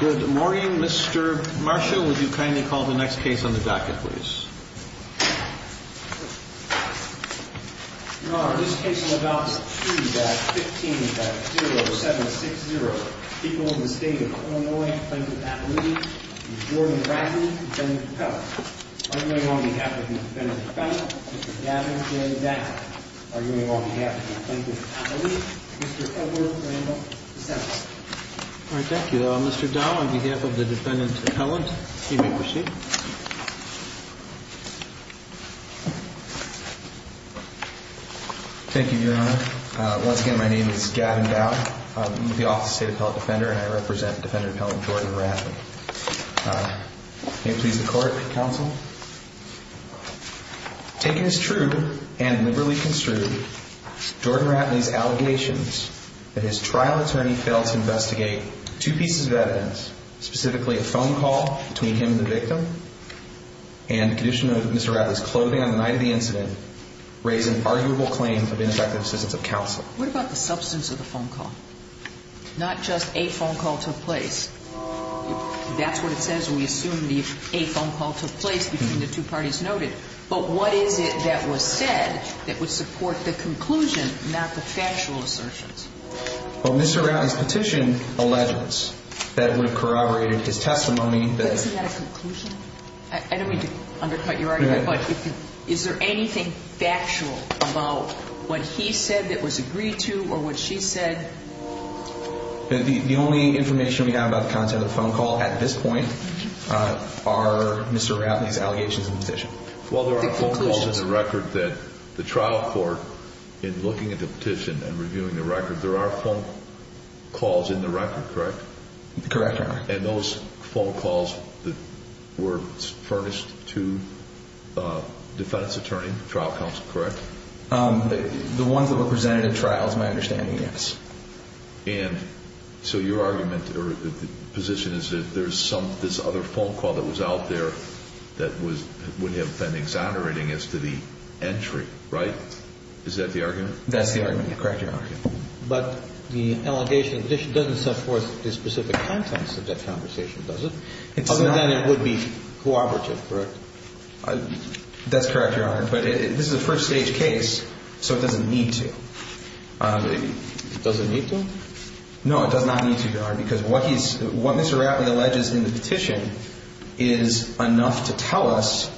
Good morning, Mr. Marsha. Would you kindly call the next case on the docket, please? Your Honor, this case will adopt 3-15-0760, people of the State of Illinois, Plaintiff's Appellate, Mr. Jordan Ratley, Defendant Professor. Arguing on behalf of the Defendant Appellate, Mr. Gavin Dowd. Arguing on behalf of the Plaintiff's Appellate, Mr. Edward Randall III. All right, thank you. Mr. Dowd, on behalf of the Defendant Appellate, you may proceed. Thank you, Your Honor. Once again, my name is Gavin Dowd. I'm with the Office of the State Appellate Defender, and I represent Defendant Appellate Jordan Ratley. May it please the Court, counsel. Taken as true and liberally construed, Jordan Ratley's allegations that his trial attorney failed to investigate two pieces of evidence, specifically a phone call between him and the victim, and the condition of Mr. Ratley's clothing on the night of the incident, raise an arguable claim of ineffective assistance of counsel. What about the substance of the phone call? Not just a phone call took place. That's what it says when we assume that a phone call took place between the two parties noted. But what is it that was said that would support the conclusion, not the factual assertions? Well, Mr. Ratley's petition alleges that it would have corroborated his testimony. But isn't that a conclusion? I don't mean to undercut your argument. But is there anything factual about what he said that was agreed to or what she said? The only information we have about the content of the phone call at this point are Mr. Ratley's allegations in the petition. Well, there are phone calls in the record that the trial court, in looking at the petition and reviewing the record, there are phone calls in the record, correct? Correct, Your Honor. And those phone calls were furnished to a defense attorney, trial counsel, correct? The ones that were presented at trial is my understanding, yes. And so your argument or position is that there's some, this other phone call that was out there that would have been exonerating as to the entry, right? Is that the argument? That's the argument, correct, Your Honor. But the allegation of the petition doesn't set forth the specific contents of that conversation, does it? Other than it would be cooperative, correct? That's correct, Your Honor. But this is a first-stage case, so it doesn't need to. It doesn't need to? No, it does not need to, Your Honor, because what he's, what Mr. Ratley alleges in the petition is enough to tell us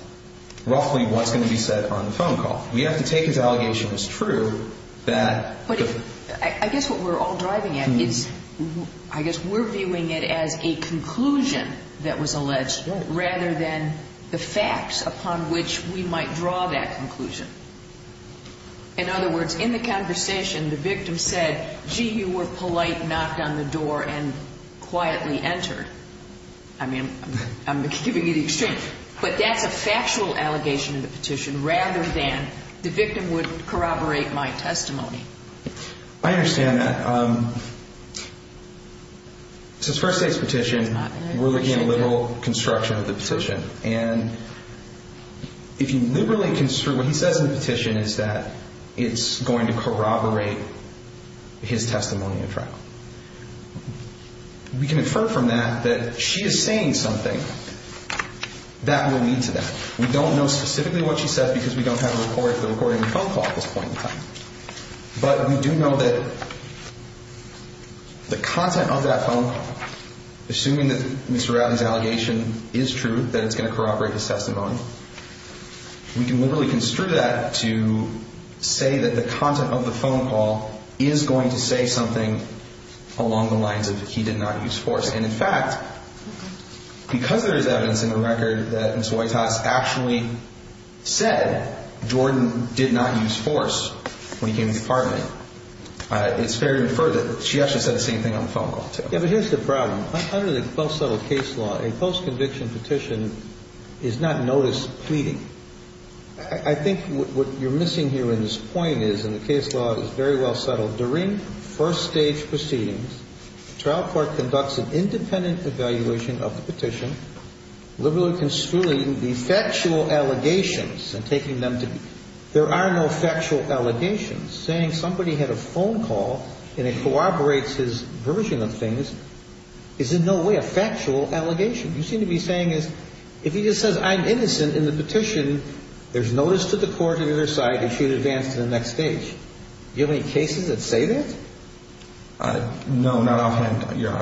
roughly what's going to be said on the phone call. We have to take his allegation as true that the ---- But I guess what we're all driving at is I guess we're viewing it as a conclusion that was alleged rather than the facts upon which we might draw that conclusion. In other words, in the conversation, the victim said, gee, you were polite, knocked on the door, and quietly entered. I mean, I'm giving you the extreme. But that's a factual allegation in the petition rather than the victim would corroborate my testimony. I understand that. It's a first-stage petition. We're looking at a liberal construction of the petition. And if you liberally construct, what he says in the petition is that it's going to corroborate his testimony in trial. We can infer from that that she is saying something that will lead to that. We don't know specifically what she said because we don't have a report of the recording of the phone call at this point in time. But we do know that the content of that phone call, assuming that Mr. Ratley's allegation is true, that it's going to corroborate his testimony, we can liberally construe that to say that the content of the phone call is going to say something along the lines of he did not use force. And, in fact, because there is evidence in the record that Ms. Whitehouse actually said Jordan did not use force when he came to the department, it's fair to infer that she actually said the same thing on the phone call, too. Yeah, but here's the problem. Under the close-settled case law, a post-conviction petition is not notice pleading. I think what you're missing here in this point is, and the case law is very well settled, during first-stage proceedings, the trial court conducts an independent evaluation of the petition, liberally construing the factual allegations and taking them to be. And I think what you're missing here in this point is, under the close-settled case law, a post-conviction petition is not notice pleading. I think what you're missing here in this point is, under the close-settled case law, the trial court conducts an independent evaluation of the petition, liberally construing the factual allegations and taking them to be. And I think what you're missing here in this point is, under the close-settled case law, a post-conviction petition is not notice pleading. I think what you're missing here in this point is, under the close-settled case law, a post-conviction petition is not notice pleading. And I think the Court would agree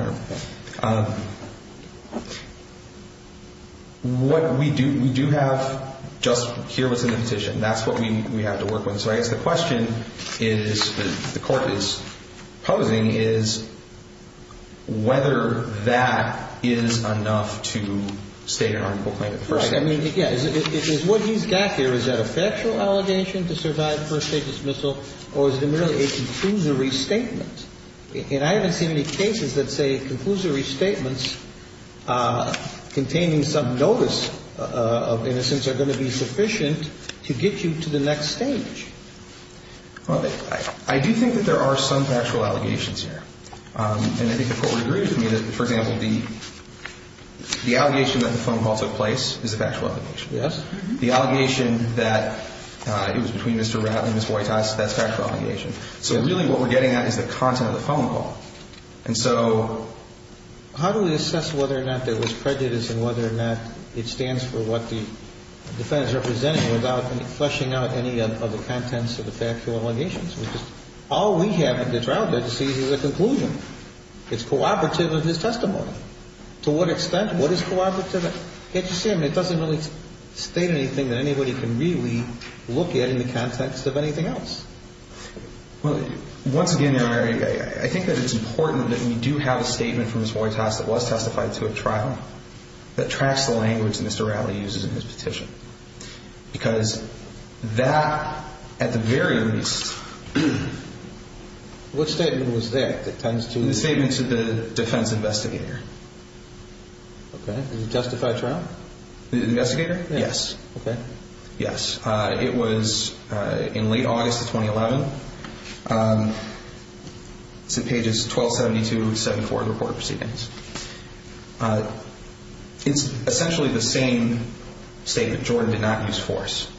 with me that, for example, the allegation that the phone call took place is a factual allegation. Yes. The allegation that it was between Mr. Ratt and Ms. Whitehouse, that's a factual allegation. So really what we're getting at is the content of the phone call. And so how do we assess whether or not there was prejudice and whether or not it stands for what the defense represented without fleshing out any of the contents of the factual allegations? Because all we have at the trial judge sees is a conclusion. It's cooperative of his testimony. To what extent? What is cooperative? Can't you see? I mean, it doesn't really state anything that anybody can really look at in the context of anything else. Well, once again, Your Honor, I think that it's important that we do have a statement from Ms. Whitehouse that was testified to at trial that tracks the language Mr. Rattley uses in his petition. Because that, at the very least... What statement was that that tends to... The statement to the defense investigator. Okay. Does it justify trial? The investigator? Yes. Okay. Yes. It was in late August of 2011. It's in pages 1272 and 174 of the report of proceedings. It's essentially the same statement. Jordan did not use force.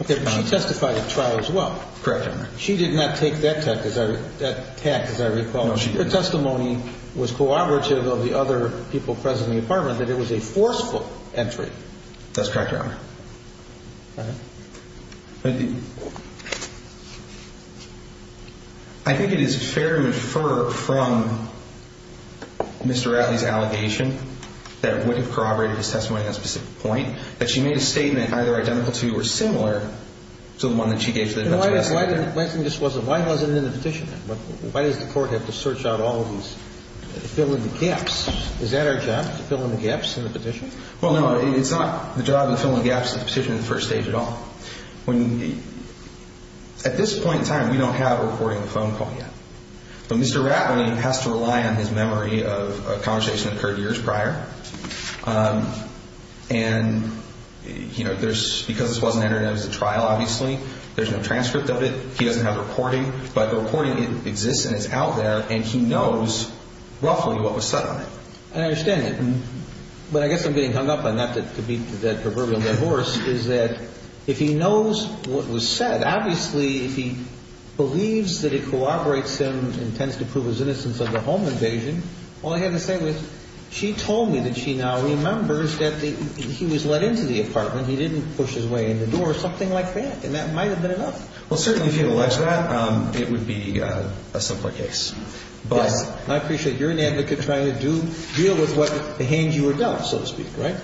Okay. She testified at trial as well. Correct, Your Honor. She did not take that tact, as I recall. No, she didn't. Her testimony was cooperative of the other people present in the apartment, that it was a forceful entry. That's correct, Your Honor. All right. Thank you. I think it is fair to infer from Mr. Rattley's allegation that it would have corroborated his testimony on a specific point, that she made a statement either identical to or similar to the one that she gave to the investigator. Why wasn't it in the petition? Why does the court have to search out all of these, fill in the gaps? Is that our job, to fill in the gaps in the petition? Well, no, it's not the job to fill in the gaps in the petition in the first stage at all. At this point in time, we don't have a recording of the phone call yet. But Mr. Rattley has to rely on his memory of a conversation that occurred years prior. And, you know, because this wasn't entered in as a trial, obviously, there's no transcript of it. He doesn't have the recording. But the recording exists and it's out there, and he knows roughly what was said on it. I understand that. But I guess I'm getting hung up on that proverbial divorce, is that if he knows what was said, obviously, if he believes that it corroborates him and intends to prove his innocence of the home invasion, all I have to say is she told me that she now remembers that he was let into the apartment, he didn't push his way in the door, something like that, and that might have been enough. Well, certainly, if you had alleged that, it would be a simpler case. But I appreciate you're an advocate trying to deal with what the hand you were dealt, so to speak, right?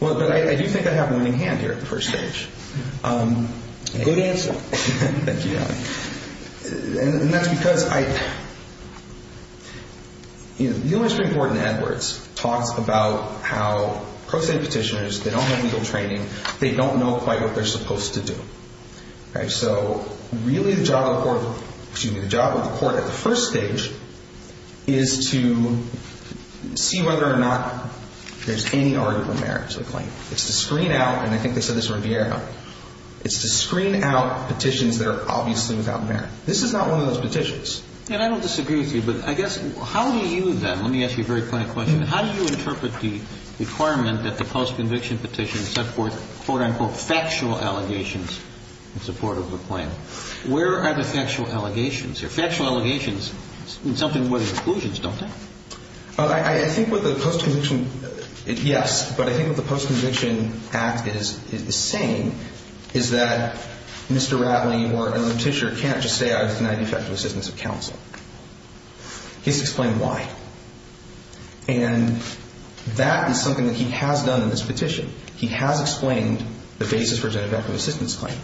Well, but I do think I have a winning hand here at the first stage. Good answer. Thank you, Your Honor. And that's because I – the only Supreme Court in Edwards talks about how pro se petitioners, they don't have legal training, they don't know quite what they're supposed to do. So really the job of the court – excuse me – the job of the court at the first stage is to see whether or not there's any arguable merit to the claim. It's to screen out – and I think they said this in Riviera – it's to screen out petitions that are obviously without merit. This is not one of those petitions. And I don't disagree with you, but I guess how do you then – let me ask you a very plain question. How do you interpret the requirement that the post-conviction petition support, quote-unquote, factual allegations in support of the claim? Where are the factual allegations here? Factual allegations in something with inclusions, don't they? I think with the post-conviction – yes. But I think what the post-conviction act is saying is that Mr. Ratley or a noticier can't just stay out of the United Federal Systems of Counsel. He's explained why. And that is something that he has done in this petition. He has explained the basis for a genitive active assistance claim.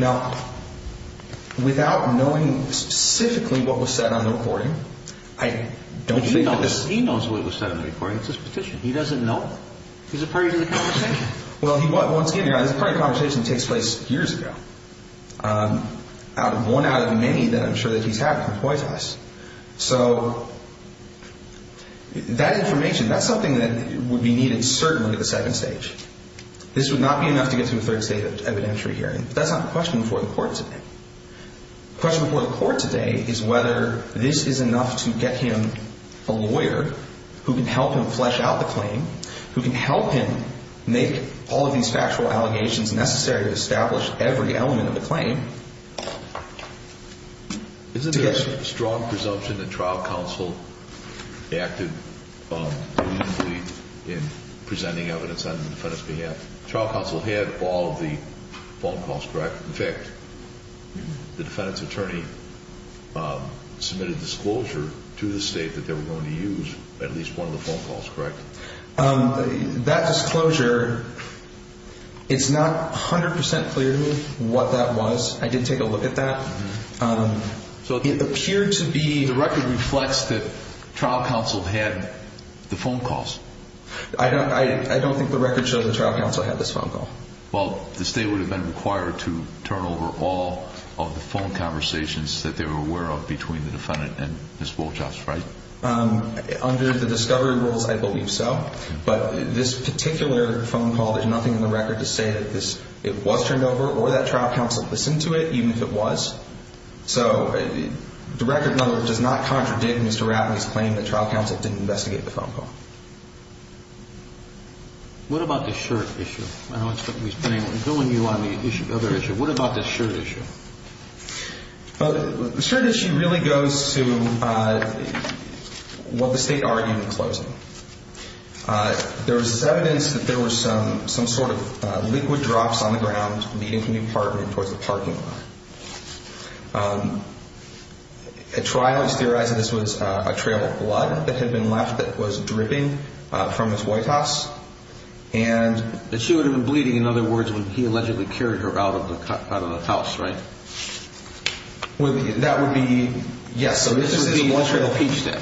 Now, without knowing specifically what was said on the recording, I don't think that this – But he knows what was said on the recording. It's his petition. He doesn't know it. He's a party to the conversation. Well, once again, this is a party conversation that takes place years ago. One out of many that I'm sure that he's had can point to this. So that information, that's something that would be needed certainly at the second stage. This would not be enough to get to a third state evidentiary hearing. But that's not the question before the court today. The question before the court today is whether this is enough to get him a lawyer who can help him flesh out the claim, who can help him make all of these factual allegations necessary to establish every element of the claim. Isn't there a strong presumption that trial counsel acted reasonably in presenting evidence on the defendant's behalf? Trial counsel had all of the phone calls, correct? In fact, the defendant's attorney submitted disclosure to the state that they were going to use at least one of the phone calls, correct? That disclosure, it's not 100% clear to me what that was. I did take a look at that. So it appeared to be the record reflects that trial counsel had the phone calls. I don't think the record shows the trial counsel had this phone call. Well, the state would have been required to turn over all of the phone conversations that they were aware of between the defendant and Ms. Wolchoff, right? Under the discovery rules, I believe so. But this particular phone call, there's nothing in the record to say that it was turned over or that trial counsel listened to it, even if it was. So the record number does not contradict Mr. Ratney's claim that trial counsel didn't investigate the phone call. What about the shirt issue? I know it's putting you on the other issue. What about the shirt issue? The shirt issue really goes to what the state argued in closing. There was this evidence that there was some sort of liquid drops on the ground leading from the apartment towards the parking lot. At trial, it was theorized that this was a trail of blood that had been left that was dripping from Ms. Wolchoff's, and that she would have been bleeding. In other words, when he allegedly carried her out of the house, right? That would be, yes. So this would be the trail of peach dip.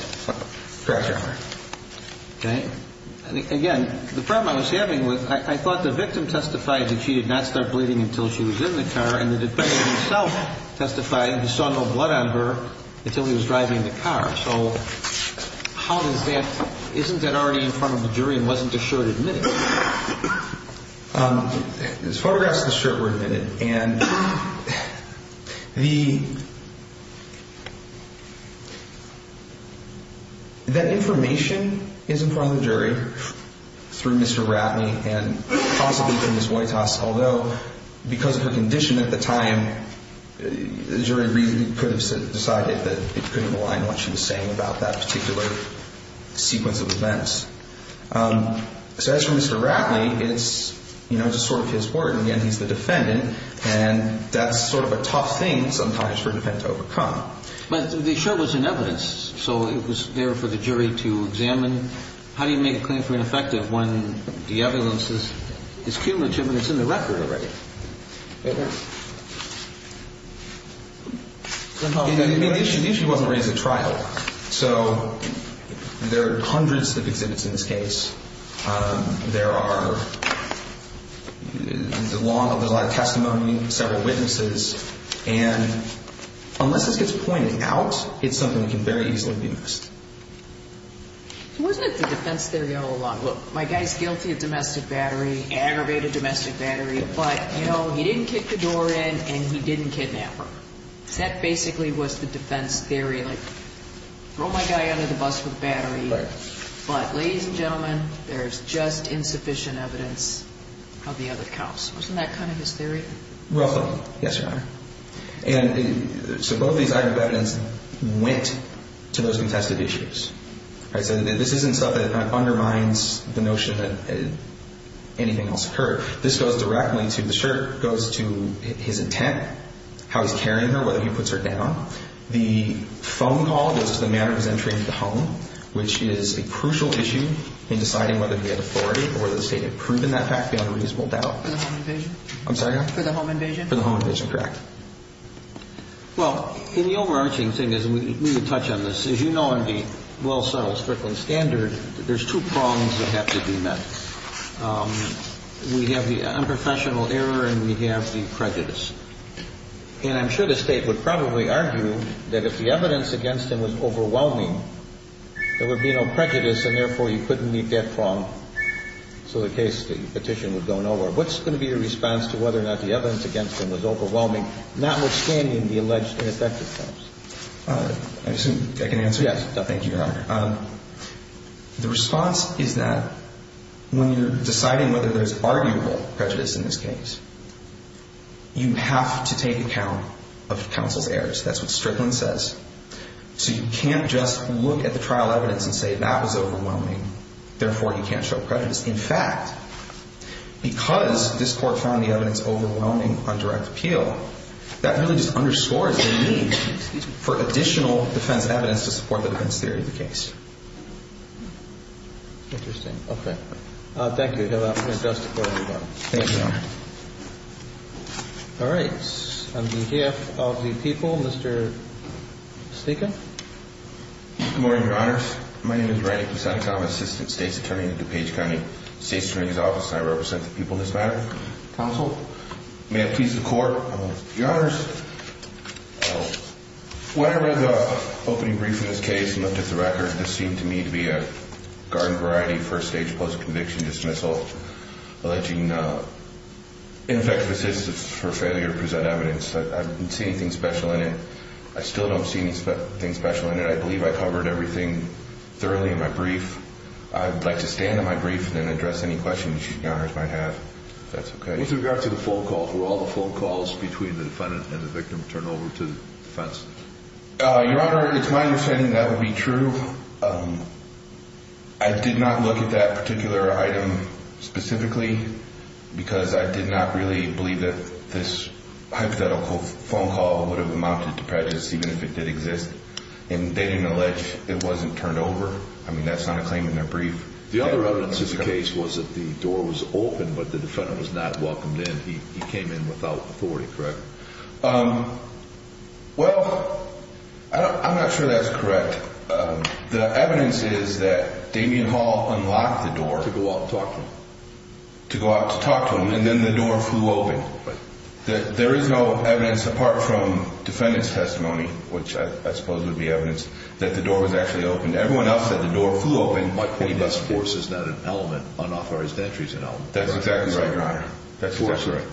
Correct, Your Honor. Okay. Again, the problem I was having was I thought the victim testified that she did not start bleeding until she was in the car, and the defendant himself testified he saw no blood on her until he was driving the car. So how does that – isn't that already in front of the jury and wasn't the shirt admitted? This photograph is the shirt we're admitting. And the – that information is in front of the jury through Mr. Ratney and possibly through Ms. Wojtas, although because of her condition at the time, the jury really could have decided that it couldn't align what she was saying about that particular sequence of events. So as for Mr. Ratney, it's, you know, just sort of his word. And again, he's the defendant, and that's sort of a tough thing sometimes for a defendant to overcome. But the shirt was in evidence, so it was there for the jury to examine. And how do you make a claim for ineffective when the evidence is cumulative and it's in the record already? The issue wasn't raised at trial. So there are hundreds of exhibits in this case. There are – there's a lot of testimony, several witnesses. And unless this gets pointed out, it's something that can very easily be missed. So wasn't it the defense theory all along? Look, my guy's guilty of domestic battery, aggravated domestic battery, but, you know, he didn't kick the door in and he didn't kidnap her. So that basically was the defense theory, like throw my guy under the bus with battery. But, ladies and gentlemen, there's just insufficient evidence of the other cops. Wasn't that kind of his theory? Roughly. Yes, Your Honor. And so both these items of evidence went to those contested issues. So this isn't stuff that undermines the notion that anything else occurred. This goes directly to – the shirt goes to his intent, how he's carrying her, whether he puts her down. The phone call goes to the manner of his entry into the home, which is a crucial issue in deciding whether he had authority or whether the state had proven that fact beyond a reasonable doubt. For the home invasion? I'm sorry, Your Honor? For the home invasion? For the home invasion, correct. Well, the overarching thing is – and we can touch on this. As you know, in the well-settled Strickland standard, there's two prongs that have to be met. We have the unprofessional error and we have the prejudice. And I'm sure the state would probably argue that if the evidence against him was overwhelming, there would be no prejudice and, therefore, you couldn't leave that prong. So the case, the petition would go nowhere. What's going to be your response to whether or not the evidence against him was overwhelming, notwithstanding the alleged ineffectiveness? I assume I can answer that. Yes. Thank you, Your Honor. The response is that when you're deciding whether there's arguable prejudice in this case, you have to take account of counsel's errors. That's what Strickland says. So you can't just look at the trial evidence and say that was overwhelming, therefore, you can't show prejudice. In fact, because this Court found the evidence overwhelming on direct appeal, that really just underscores the need for additional defense evidence to support the defense theory of the case. Interesting. Okay. Thank you. Have a good day. Thank you, Your Honor. All right. On behalf of the people, Mr. Sneca? Good morning, Your Honor. My name is Randy Sneca. I'm Assistant State's Attorney in DuPage County State's Attorney's Office, and I represent the people in this matter. Counsel? May it please the Court? Your Honor, when I read the opening brief in this case and looked at the record, this seemed to me to be a garden variety first-stage post-conviction dismissal, alleging ineffective assistance for failure to present evidence. I didn't see anything special in it. I still don't see anything special in it. I believe I covered everything thoroughly in my brief. I'd like to stand in my brief and then address any questions you, Your Honors, might have, if that's okay. With regard to the phone call, were all the phone calls between the defendant and the victim turned over to the defense? Your Honor, it's my understanding that would be true. I did not look at that particular item specifically because I did not really believe that this hypothetical phone call would have amounted to prejudice, even if it did exist. And they didn't allege it wasn't turned over? I mean, that's not a claim in their brief. The other evidence in the case was that the door was open, but the defendant was not welcomed in. He came in without authority, correct? Well, I'm not sure that's correct. The evidence is that Damien Hall unlocked the door. To go out and talk to him. To go out to talk to him, and then the door flew open. There is no evidence, apart from defendant's testimony, which I suppose would be evidence, that the door was actually open. Everyone else said the door flew open. My point is force is not an element. Unauthorized entry is an element. That's exactly right, Your Honor.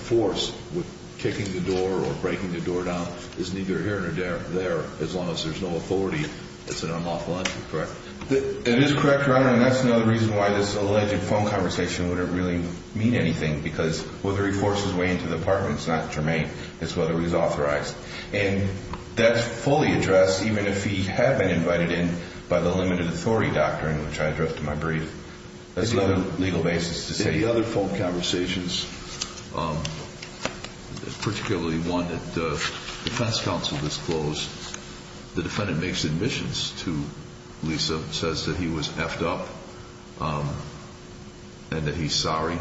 Force, with kicking the door or breaking the door down, is neither here nor there. As long as there's no authority, it's an unlawful entry, correct? It is correct, Your Honor, and that's another reason why this alleged phone conversation wouldn't really mean anything. Because whether he forced his way into the apartment is not germane. It's whether he's authorized. And that's fully addressed, even if he had been invited in by the limited authority doctrine, which I addressed in my brief. That's another legal basis to say. In the other phone conversations, particularly one that the defense counsel disclosed, the defendant makes admissions to Lisa, says that he was effed up and that he's sorry.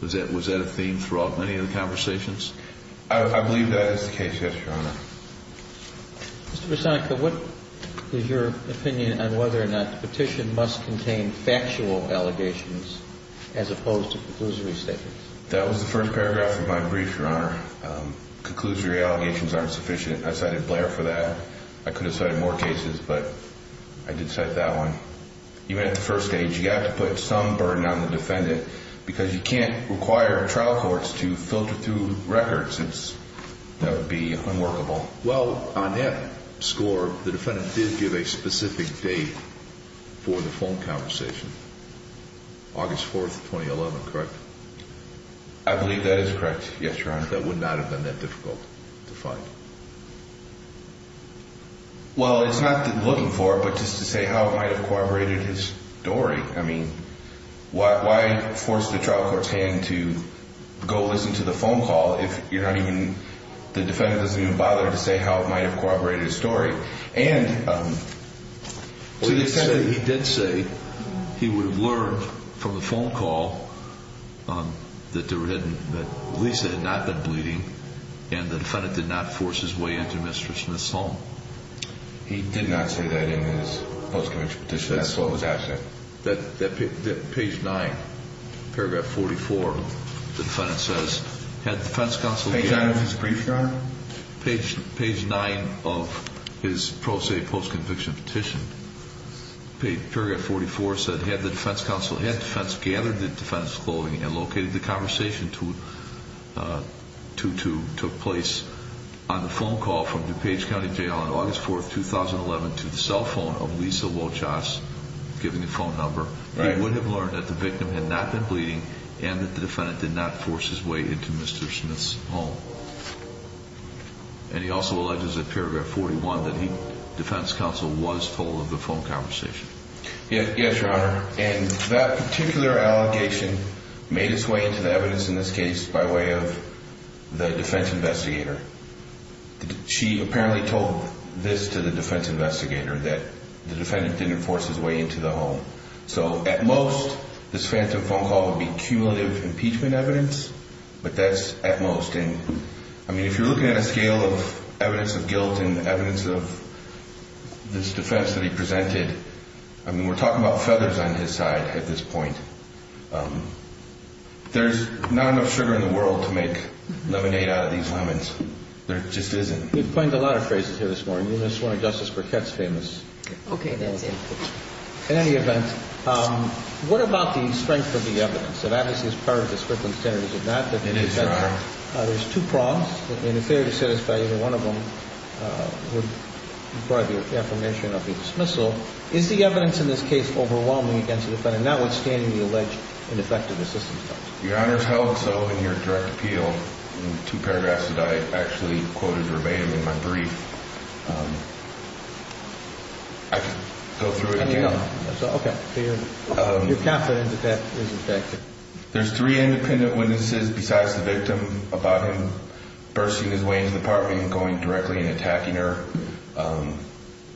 Was that a theme throughout any of the conversations? I believe that is the case, yes, Your Honor. Mr. Visonico, what is your opinion on whether or not the petition must contain factual allegations as opposed to conclusory statements? That was the first paragraph of my brief, Your Honor. Conclusory allegations aren't sufficient. I cited Blair for that. I could have cited more cases, but I did cite that one. Even at the first stage, you have to put some burden on the defendant because you can't require trial courts to filter through records. That would be unworkable. Well, on that score, the defendant did give a specific date for the phone conversation, August 4th, 2011, correct? I believe that is correct, yes, Your Honor. That would not have been that difficult to find. Well, it's not that I'm looking for it, but just to say how it might have corroborated his story. I mean, why force the trial court's hand to go listen to the phone call if the defendant doesn't even bother to say how it might have corroborated his story? He did say he would have learned from the phone call that Lisa had not been bleeding and the defendant did not force his way into Mr. Smith's home. He did not say that in his post-conviction petition. That's what was asked of him. Page 9, paragraph 44, the defendant says, had the defense counsel given him... Page 9 of his brief, Your Honor? Page 9 of his pro se post-conviction petition. Paragraph 44 said, had the defense counsel gathered the defendant's clothing and located the conversation took place on the phone call from DuPage County Jail on August 4th, 2011, to the cell phone of Lisa Wochasz, giving the phone number, he would have learned that the victim had not been bleeding and that the defendant did not force his way into Mr. Smith's home. And he also alleges in paragraph 41 that the defense counsel was told of the phone conversation. Yes, Your Honor. And that particular allegation made its way into the evidence in this case by way of the defense investigator. She apparently told this to the defense investigator that the defendant didn't force his way into the home. So, at most, this phantom phone call would be cumulative impeachment evidence, but that's at most. And, I mean, if you're looking at a scale of evidence of guilt and evidence of this defense that he presented, I mean, we're talking about feathers on his side at this point. There's not enough sugar in the world to make lemonade out of these lemons. There just isn't. You've coined a lot of phrases here this morning. You missed one of Justice Burkett's famous... Okay, that was it. In any event, what about the strength of the evidence? It obviously is part of the Strickland standards, is it not? It is, Your Honor. There's two prongs, and if they are dissatisfied, either one of them would require the affirmation of the dismissal. Is the evidence in this case overwhelming against the defendant, notwithstanding the alleged ineffective assistance? Your Honor, it's held so in your direct appeal in the two paragraphs that I actually quoted verbatim in my brief. I could go through it again. Okay. You're confident that that is effective? There's three independent witnesses besides the victim about him bursting his way into the apartment and going directly and attacking her.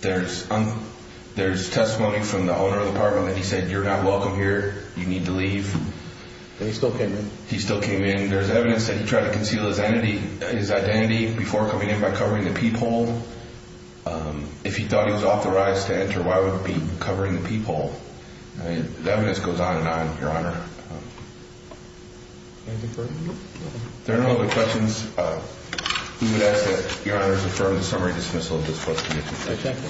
There's testimony from the owner of the apartment that he said, You're not welcome here. You need to leave. And he still came in? He still came in. I mean, there's evidence that he tried to conceal his identity before coming in by covering the peephole. If he thought he was authorized to enter, why would he be covering the peephole? I mean, the evidence goes on and on, Your Honor. Anything further? If there are no other questions, we would ask that Your Honor's affirm the summary dismissal of this prosecution. Exactly.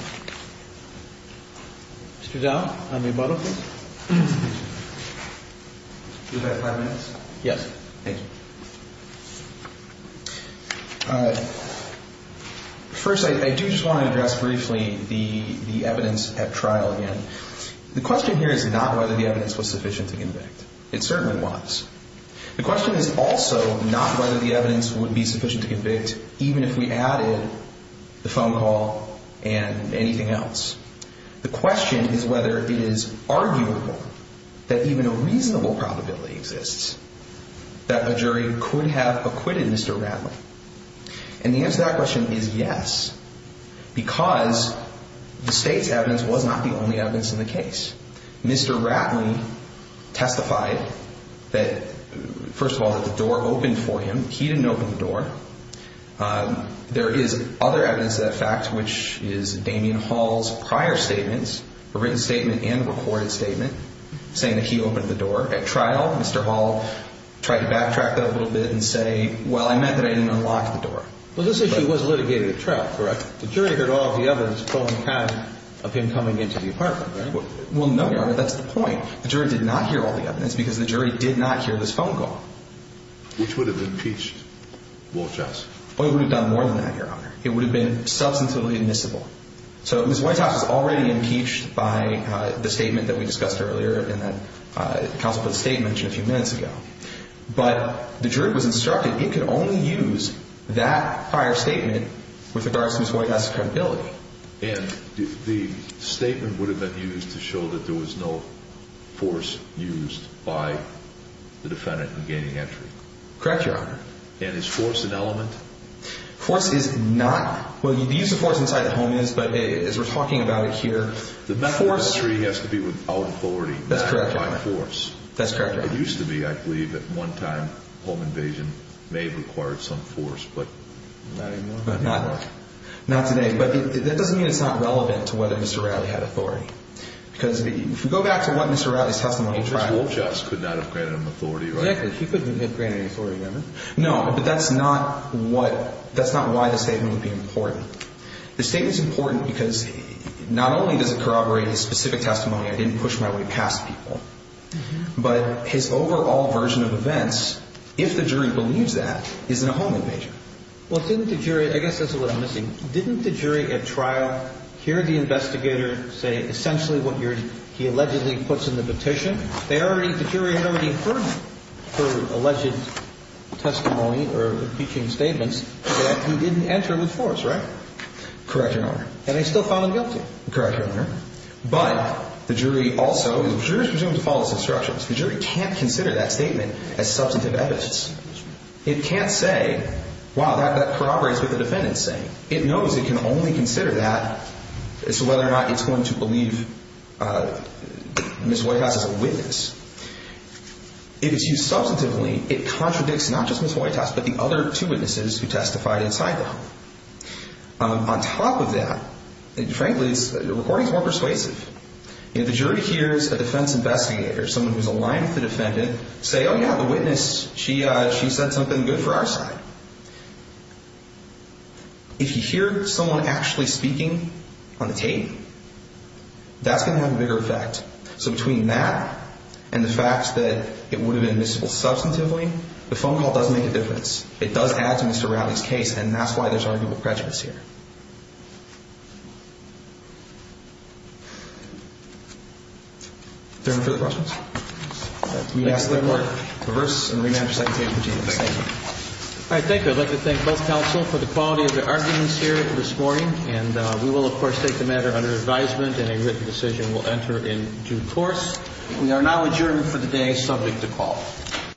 Mr. Dowd, I may bottle, please? Do you have five minutes? Yes. Thank you. First, I do just want to address briefly the evidence at trial again. The question here is not whether the evidence was sufficient to convict. It certainly was. The question is also not whether the evidence would be sufficient to convict even if we added the phone call and anything else. The question is whether it is arguable that even a reasonable probability exists that a jury could have acquitted Mr. Ratley. And the answer to that question is yes, because the state's evidence was not the only evidence in the case. Mr. Ratley testified that, first of all, that the door opened for him. He didn't open the door. There is other evidence of that fact, which is Damien Hall's prior statements, a written statement and a recorded statement, saying that he opened the door. At trial, Mr. Hall tried to backtrack that a little bit and say, well, I meant that I didn't unlock the door. Well, this issue was litigated at trial, correct? The jury heard all of the evidence from him coming into the apartment, right? Well, no, Your Honor, that's the point. The jury did not hear all the evidence because the jury did not hear this phone call. Which would have impeached? Well, it would have done more than that, Your Honor. It would have been substantively admissible. So Ms. Whitehouse was already impeached by the statement that we discussed earlier and that counsel put a statement a few minutes ago. But the jury was instructed it could only use that prior statement with regards to Ms. Whitehouse's credibility. And the statement would have been used to show that there was no force used by the defendant in gaining entry. Correct, Your Honor. And is force an element? Force is not. Well, the use of force inside the home is, but as we're talking about it here, force... The method of entry has to be without authority. That's correct, Your Honor. Not by force. That's correct, Your Honor. It used to be, I believe, that one time home invasion may have required some force, but not anymore. Not today. But that doesn't mean it's not relevant to whether Mr. Rowley had authority. Because if you go back to what Mr. Rowley's testimony tried... Mr. Wolchoff could not have granted him authority, right? Correct. He couldn't have granted any authority, Your Honor. No, but that's not what... That's not why the statement would be important. The statement's important because not only does it corroborate his specific testimony, I didn't push my way past people, but his overall version of events, if the jury believes that, is in a home invasion. Well, didn't the jury... I guess that's a little missing. Didn't the jury at trial hear the investigator say essentially what he allegedly puts in the petition? The jury had already heard her alleged testimony or impeaching statements that he didn't enter with force, right? Correct, Your Honor. And they still found him guilty. Correct, Your Honor. But the jury also is presumed to follow some structures. The jury can't consider that statement as substantive evidence. It can't say, wow, that corroborates what the defendant's saying. It knows it can only consider that as to whether or not it's going to believe Ms. Hoytas is a witness. If it's used substantively, it contradicts not just Ms. Hoytas, but the other two witnesses who testified inside the home. On top of that, frankly, the recording's more persuasive. If the jury hears a defense investigator, someone who's aligned with the defendant, say, oh, yeah, the witness, she said something good for our side. If you hear someone actually speaking on the tape, that's going to have a bigger effect. So between that and the fact that it would have been admissible substantively, the phone call does make a difference. It does add to Mr. Rowley's case, and that's why there's arguable prejudice here. Is there any further questions? Thank you. I'd like to thank both counsel for the quality of their arguments here this morning, and we will, of course, take the matter under advisement, and a written decision will enter in due course. We are now adjourned for the day, subject to call.